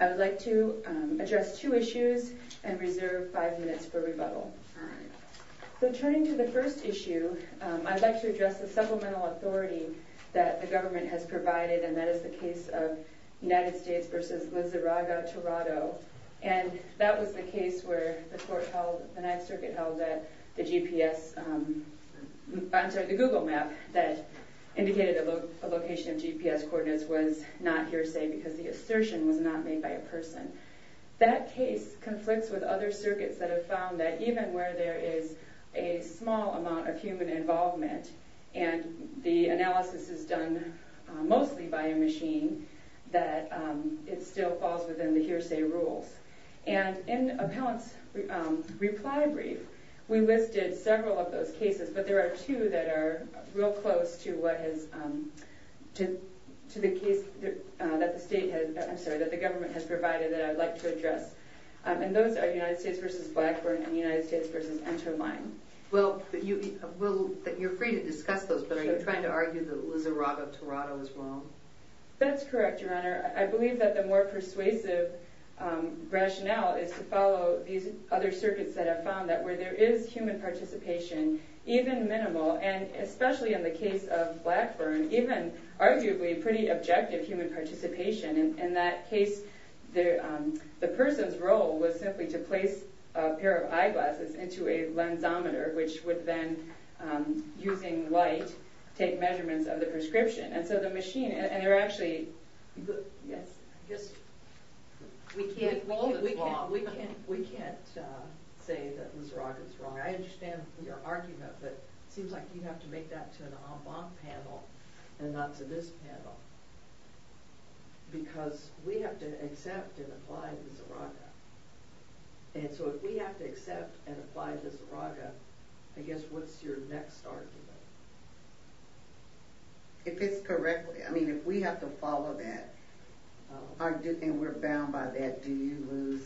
I would like to address two issues and reserve five minutes for rebuttal. So turning to the first issue, I would like to address the supplemental authority that the government has provided and that is the case of United States v. Lizarraga, Toronto. And that was the case where the court held, the Ninth Circuit held that the GPS, I'm sorry the Google map that indicated a location of GPS coordinates was not hearsay because the assertion was not made by a person. That case conflicts with other circuits that have found that even where there is a small amount of human involvement and the analysis is done mostly by a machine, that it still falls within the hearsay rules. And in Appellant's reply brief, we listed several of those cases but there are two that are real close to the case that the government has provided that I would like to address. And those are United States v. Blackburn and United States v. Enterline. Well, you're free to discuss those but are you trying to argue that Lizarraga, Toronto is wrong? That's correct, Your Honor. I believe that the more persuasive rationale is to follow these other circuits that have found that where there is human participation, even minimal and especially in the case of Blackburn, even arguably pretty objective human participation in that case, the person's role was simply to place a pair of eyeglasses into a lensometer which would then, using light, take measurements of the prescription. And so the machine, and they're actually, yes? We can't say that Lizarraga is wrong. I understand your argument but it seems like you have to take that to an en banc panel and not to this panel. Because we have to accept and apply Lizarraga. And so if we have to accept and apply Lizarraga, I guess what's your next argument? If it's correct, I mean if we have to follow that, and we're bound by that, do you lose?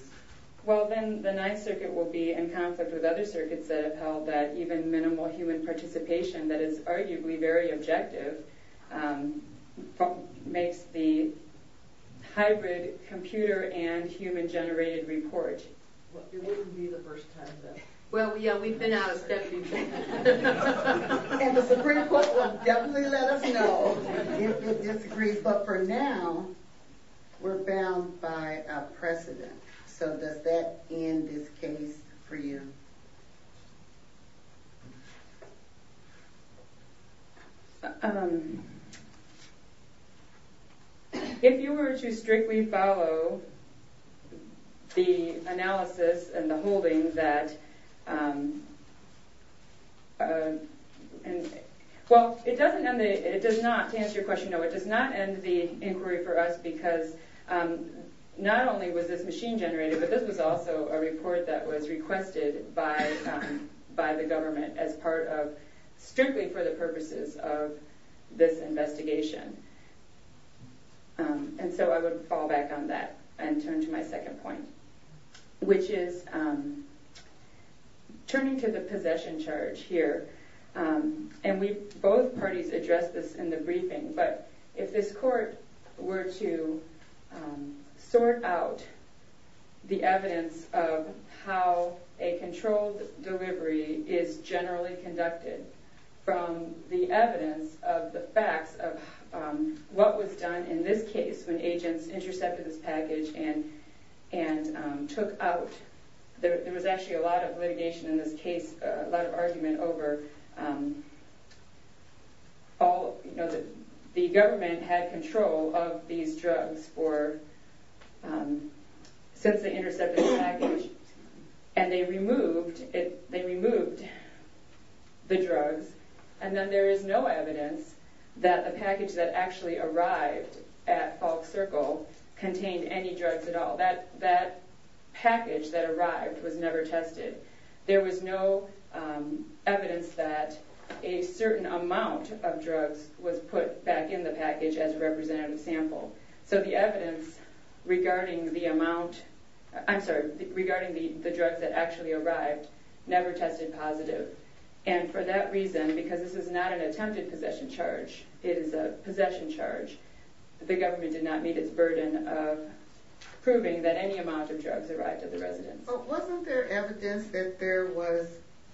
Well, then the Ninth Circuit will be in conflict with other circuits that have held that even minimal human participation, that is arguably very objective, makes the hybrid computer and human generated report. Well, it wouldn't be the first time then. Well, yeah, we've been out of stepping stones. And the Supreme Court will definitely let us know if it disagrees. But for now, we're bound by a precedent. So does that end this case for you? If you were to strictly follow the analysis and the holding that, well, it does not, to Not only was this machine generated, but this was also a report that was requested by the government as part of strictly for the purposes of this investigation. And so I would fall back on that and turn to my second point, which is turning to the possession charge here. And both parties addressed this in the briefing, but if this court were to sort out the evidence of how a controlled delivery is generally conducted from the evidence of the facts of what was done in this case when agents intercepted this package and took out, there was actually a lot of litigation in this case, a lot of argument over all, you know, the government had control of these drugs for, since they intercepted the package and they removed it, they removed the drugs. And then there is no evidence that the package that actually arrived at Falk Circle contained any drugs at all. That package that arrived was never tested. There was no evidence that a certain amount of drugs was put back in the package as a representative sample. So the evidence regarding the amount, I'm sorry, regarding the drugs that actually arrived never tested positive. And for that reason, because this is not an attempted possession charge, it is a possession charge, the government did not meet its burden of proving that any amount of drugs arrived at the residence. But wasn't there evidence that there was,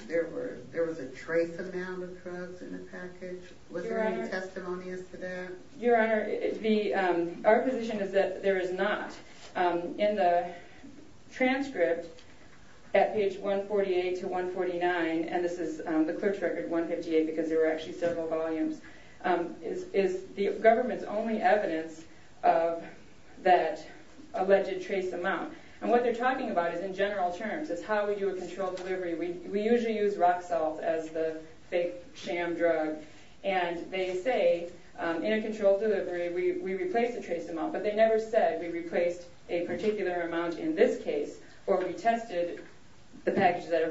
there were, there was a trace amount of drugs in the package? Was there any testimonies to that? Your Honor, our position is that there is not. In the transcript at page 148 to 149, and this is the clerk's record, 158, because there were actually several volumes, is the government's only evidence of that alleged trace amount. And what they're talking about is in general terms, is how we do a controlled delivery. We usually use rock salt as the fake sham drug. And they say in a controlled delivery we replace the trace amount, but they never said we replaced a particular amount in this case, or we tested the package that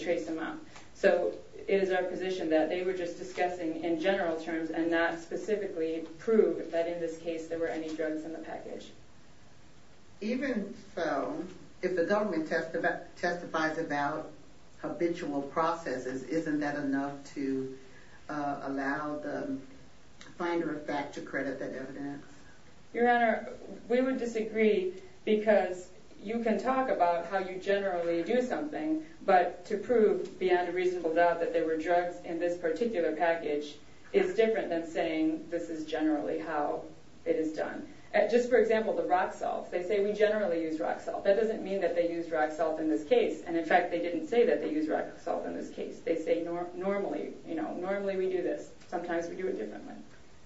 trace amount. So it is our position that they were just discussing in general terms and not specifically prove that in this case there were any drugs in the package. Even so, if the government testifies about habitual processes, isn't that enough to allow the finder of fact to credit that evidence? Your Honor, we would disagree because you can talk about how you generally do something, but to prove beyond a reasonable doubt that there were drugs in this particular package is different than saying this is generally how it is done. Just for example, the rock salt. They say we generally use rock salt. That doesn't mean that they use rock salt in this case, and in fact they didn't say that they use rock salt in this case. They say normally we do this. Sometimes we do it differently.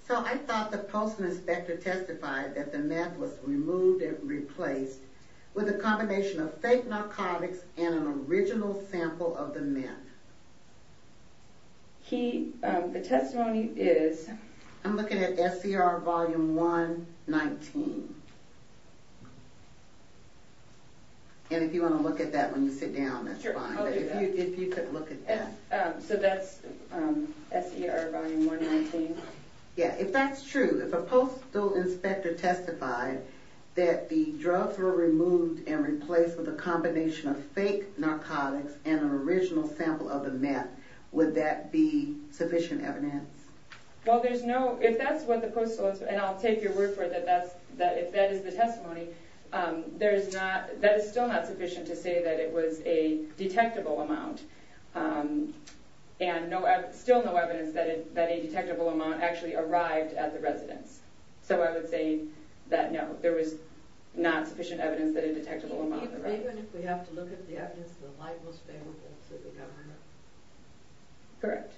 So I thought the Postal Inspector testified that the meth was removed and replaced with a combination of fake narcotics and an original sample of the meth. The testimony is? I'm looking at SCR volume 119. And if you want to look at that when you sit down, that's fine. Sure, I'll do that. But if you could look at that. So that's SCR volume 119? If that's true, if a Postal Inspector testified that the drugs were removed and replaced with a combination of fake narcotics and an original sample of the meth, would that be sufficient evidence? Well, if that's what the Postal Inspector, and I'll take your word for it that if that is the testimony, that is still not sufficient to say that it was a detectable amount. And I have still no evidence that a detectable amount actually arrived at the residence. So I would say that no, there was not sufficient evidence that a detectable amount arrived. Even if we have to look at the evidence, the light will stay on? Correct.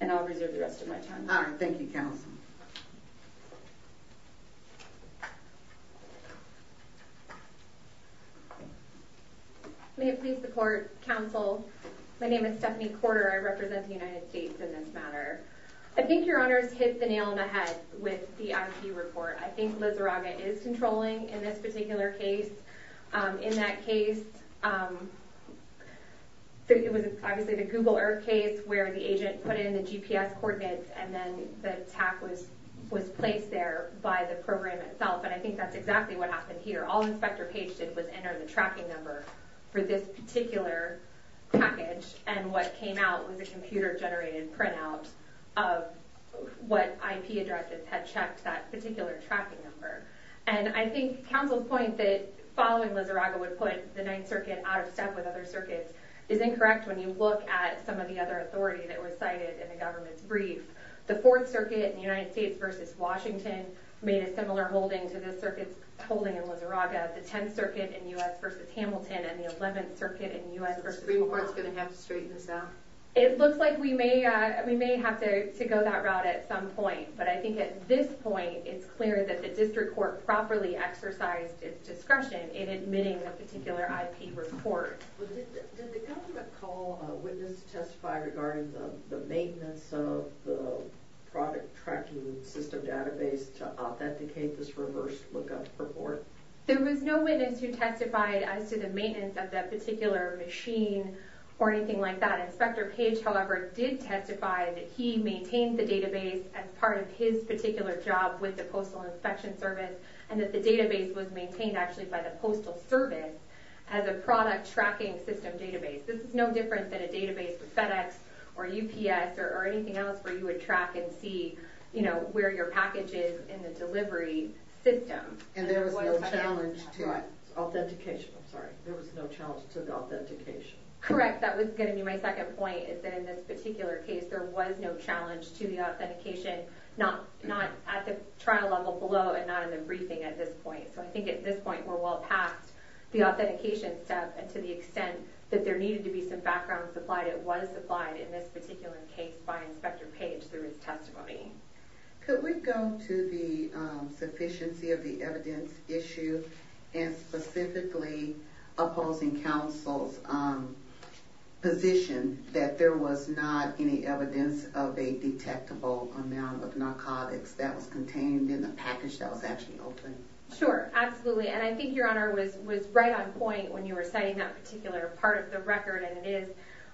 And I'll reserve the rest of my time. All right. Thank you, Counsel. May it please the Court, Counsel. My name is Stephanie Corder. I represent the United States in this matter. I think Your Honors hit the nail on the head with the IP report. I think Lizarraga is controlling in this particular case. In that case, it was obviously the Google Earth case where the agent put in the GPS coordinates and then the attack was placed there by the program itself. And I think that's exactly what happened here. All Inspector Page did was enter the tracking number for this particular package. And what came out was a computer generated printout of what IP addresses had checked that particular tracking number. And I think Counsel's point that following Lizarraga would put the Ninth Circuit out of step with other circuits is incorrect when you look at some of the other authority that was cited in the government's brief. The Fourth Circuit in the United States versus Washington made a similar holding to the circuit's holding in Lizarraga. The Tenth Circuit in the U.S. versus Hamilton and the Eleventh Circuit in the U.S. versus Obama. Is the Supreme Court going to have to straighten this out? It looks like we may have to go that route at some point. But I think at this point, it's clear that the District Court properly exercised its discretion in admitting a particular IP report. Did the government call a witness to testify regarding the maintenance of the product tracking system database to authenticate this reverse lookup report? There was no witness who testified as to the maintenance of that particular machine or anything like that. Inspector Page, however, did testify that he maintained the database as part of his particular job with the Postal Inspection Service and that the database was as a product tracking system database. This is no different than a database with FedEx or UPS or anything else where you would track and see, you know, where your package is in the delivery system. And there was no challenge to authentication. I'm sorry. There was no challenge to the authentication. Correct. That was going to be my second point is that in this particular case, there was no challenge to the authentication, not at the trial level below and not in the briefing at this point. So I think at this point, we're well past the authentication step and to the extent that there needed to be some background supplied, it was supplied in this particular case by Inspector Page through his testimony. Could we go to the sufficiency of the evidence issue and specifically opposing counsel's position that there was not any evidence of a detectable amount of narcotics that was Sure. Absolutely. And I think Your Honor was right on point when you were citing that particular part of the record and it is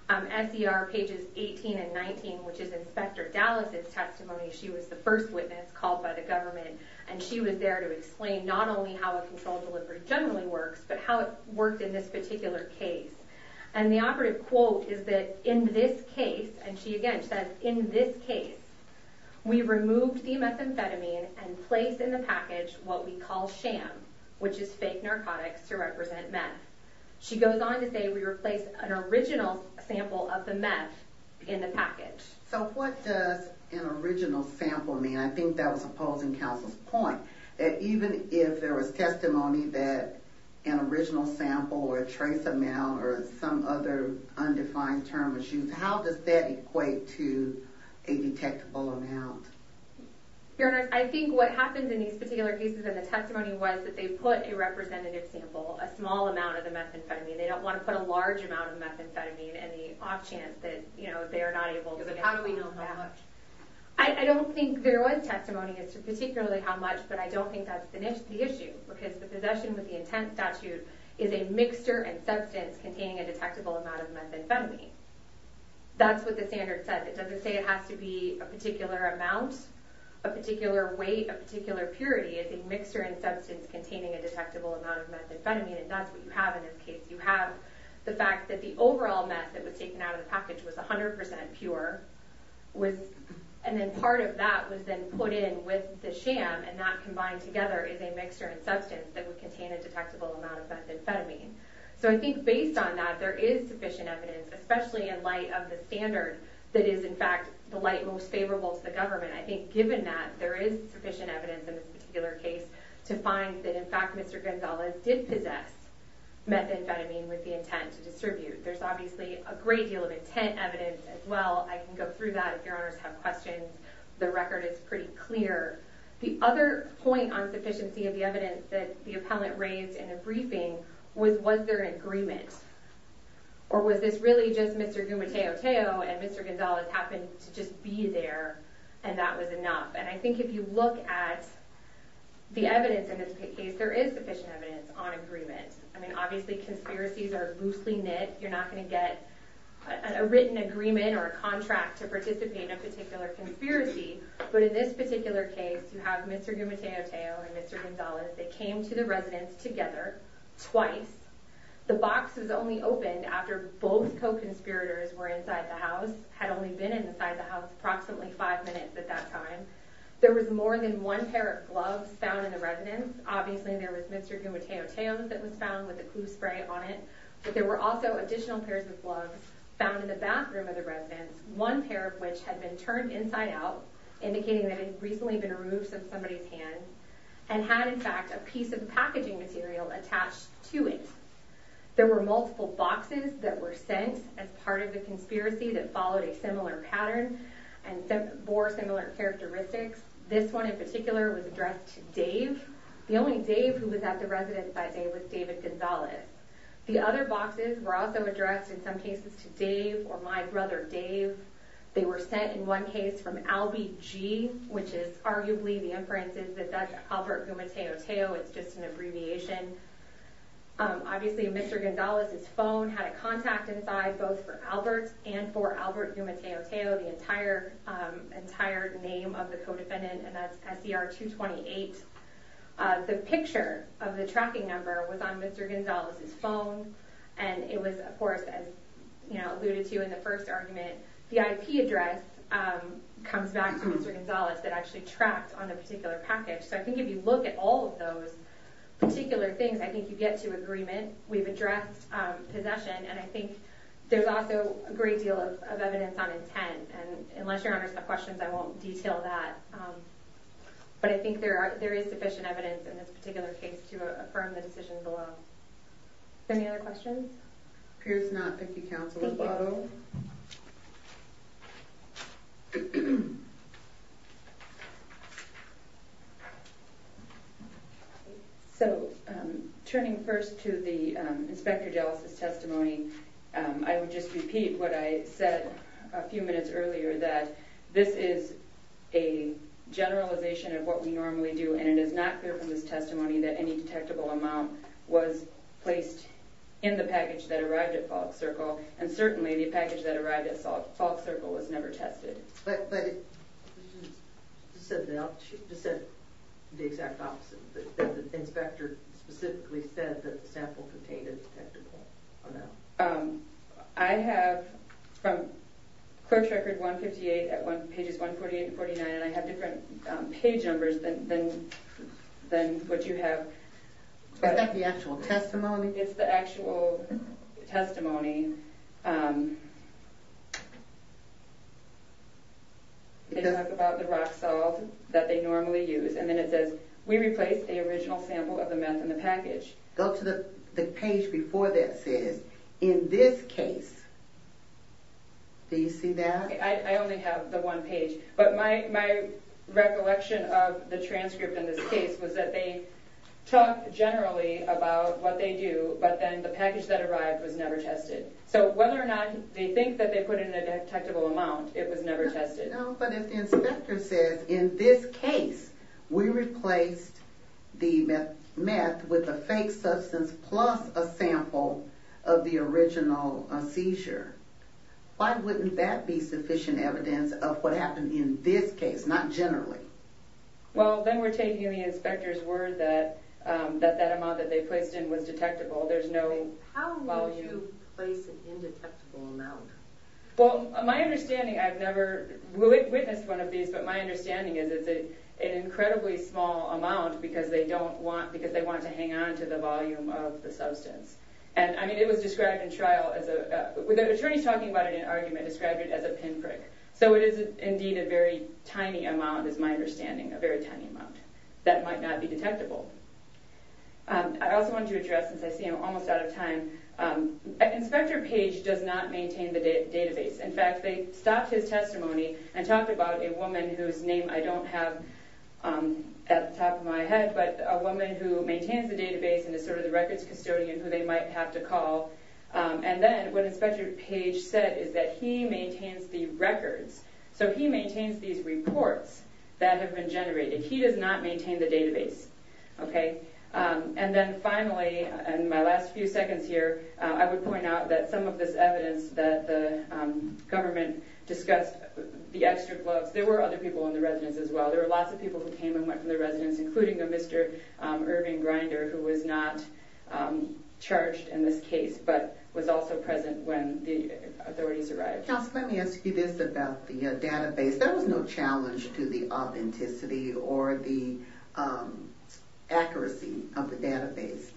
SDR pages 18 and 19, which is Inspector Dallas's testimony. She was the first witness called by the government and she was there to explain not only how a controlled delivery generally works, but how it worked in this particular case. And the operative quote is that in this case, and she again says, in this case, we removed the methamphetamine and placed in the package what we call sham, which is fake narcotics to represent meth. She goes on to say, we replaced an original sample of the meth in the package. So what does an original sample mean? I think that was opposing counsel's point that even if there was testimony that an original sample or a trace amount or some other undefined term issues, how does that equate to a detectable amount? Your Honor, I think what happens in these particular cases and the testimony was that they put a representative sample, a small amount of the methamphetamine. They don't want to put a large amount of methamphetamine and the off chance that they are not able to get it. How do we know how much? I don't think there was testimony as to particularly how much, but I don't think that's the issue because the possession with the intent statute is a mixture and substance containing a detectable amount of methamphetamine. That's what the standard says. It doesn't say it has to be a particular amount, a particular weight, a particular purity. It's a mixture and substance containing a detectable amount of methamphetamine and that's what you have in this case. You have the fact that the overall meth that was taken out of the package was 100% pure and then part of that was then put in with the sham and that combined together is a mixture and substance that would contain a detectable amount of methamphetamine. So I think based on that, there is sufficient evidence, especially in light of the standard that is in fact the light most favorable to the government. I think given that, there is sufficient evidence in this particular case to find that in fact Mr. Gonzalez did possess methamphetamine with the intent to distribute. There's obviously a great deal of intent evidence as well. I can go through that if your honors have questions. The record is pretty clear. The other point on sufficiency of the evidence that the appellant raised in the briefing was, was there an agreement? Or was this really just Mr. Gumateo-Teo and Mr. Gonzalez happened to just be there and that was enough? And I think if you look at the evidence in this case, there is sufficient evidence on agreement. I mean, obviously conspiracies are loosely knit. You're not going to get a written agreement or a contract to participate in a particular conspiracy. But in this particular case, you have Mr. Gumateo-Teo and Mr. Gonzalez. They came to the residence together, twice. The box was only opened after both co-conspirators were inside the house, had only been inside the house approximately five minutes at that time. There was more than one pair of gloves found in the residence. Obviously there was Mr. Gumateo-Teo that was found with a clue spray on it. But there were also additional pairs of gloves found in the bathroom of the residence, one pair of which had been turned inside out, indicating that it had recently been removed from somebody's hand and had in fact a piece of packaging material attached to it. There were multiple boxes that were sent as part of the conspiracy that followed a similar pattern and bore similar characteristics. This one in particular was addressed to Dave. The only Dave who was at the residence that day was David Gonzalez. The other boxes were also addressed in some cases to Dave or my case from Albie G, which is arguably the inferences that that's Albert Gumateo-Teo. It's just an abbreviation. Obviously Mr. Gonzalez's phone had a contact inside both for Albert and for Albert Gumateo-Teo, the entire name of the co-defendant. And that's SDR 228. The picture of the tracking number was on Mr. Gonzalez's phone. And it was, of course, as alluded to in the first argument, the IP address comes back to Mr. Gonzalez that actually tracked on the particular package. So I think if you look at all of those particular things, I think you get to agreement. We've addressed possession. And I think there's also a great deal of evidence on intent. And unless Your Honor's got questions, I won't detail that. But I think there is sufficient evidence in this particular case to affirm the decision below. Any other questions? Appears not picky counsel. Thank you. So turning first to the Inspector Dellis' testimony, I would just repeat what I said a few minutes earlier, that this is a generalization of what we normally do. And it is not clear from this testimony that any detectable amount was placed in the package that arrived at Falk Circle. And certainly, the package that arrived at Falk Circle was never tested. But you just said the exact opposite. The inspector specifically said that the sample contained a detectable amount. I have, from Clerk's Record 158, pages 148 and 149, I have different page numbers than what you have. Is that the actual testimony? It's the actual testimony. They talk about the rock salt that they normally use. And then it says, we replaced the original sample of the meth in the package. Go to the page before that says, in this case. Do you see that? I only have the one page. But my recollection of the transcript in this case was that they talk generally about what they do, but then the package that arrived was never tested. So whether or not they think that they put in a detectable amount, it was never tested. But if the inspector says, in this case, we replaced the meth with a fake substance plus a sample of the original seizure, why wouldn't that be sufficient evidence of what happened in this case, not generally? Well, then we're taking the inspector's word that that amount that they placed in was detectable. How would you place an indetectable amount? Well, my understanding, I've never witnessed one of these, but my understanding is it's an incredibly small amount because they want to hang on to the volume of the substance. And I mean, it was described in trial as a, with the attorneys talking about it in an argument, described it as a pinprick. So it is indeed a very tiny amount, is my understanding, a very tiny amount that might not be detectable. I also wanted to address, since I see I'm almost out of time, Inspector Page does not maintain the database. In fact, they stopped his testimony and talked about a woman whose name I don't have at the top of my head, but a woman who maintains the database and is sort of the records custodian who they might have to call. And then what Inspector Page said is that he maintains the records. So he maintains these reports that have been generated. He does not maintain the database. Okay. And then finally, in my last few seconds here, I would point out that some of this evidence that the government discussed, the extra gloves, there were other people in the residence as well. There were lots of people who came and went from the residence, including a Mr. Irving Grinder, who was not charged in this case, but was also present when the authorities arrived. Counsel, let me ask you this about the database. There was no challenge to the authenticity or the accuracy of the database,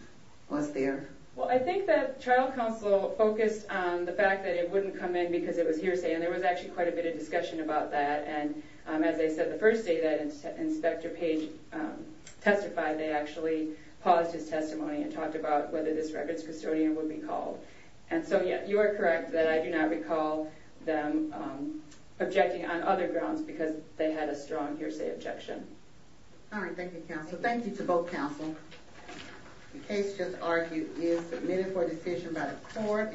was there? Well, I think that trial counsel focused on the fact that it wouldn't come in because it was hearsay. And there was actually quite a bit of discussion about that. And as I said, the first day that Inspector Page testified, they actually paused his testimony and talked about whether this records custodian would be called. And so, yeah, you are correct that I do not recall them objecting on other grounds because they had a strong hearsay objection. All right. Thank you, counsel. Thank you to both counsel. The case just argued is submitted for decision by the court.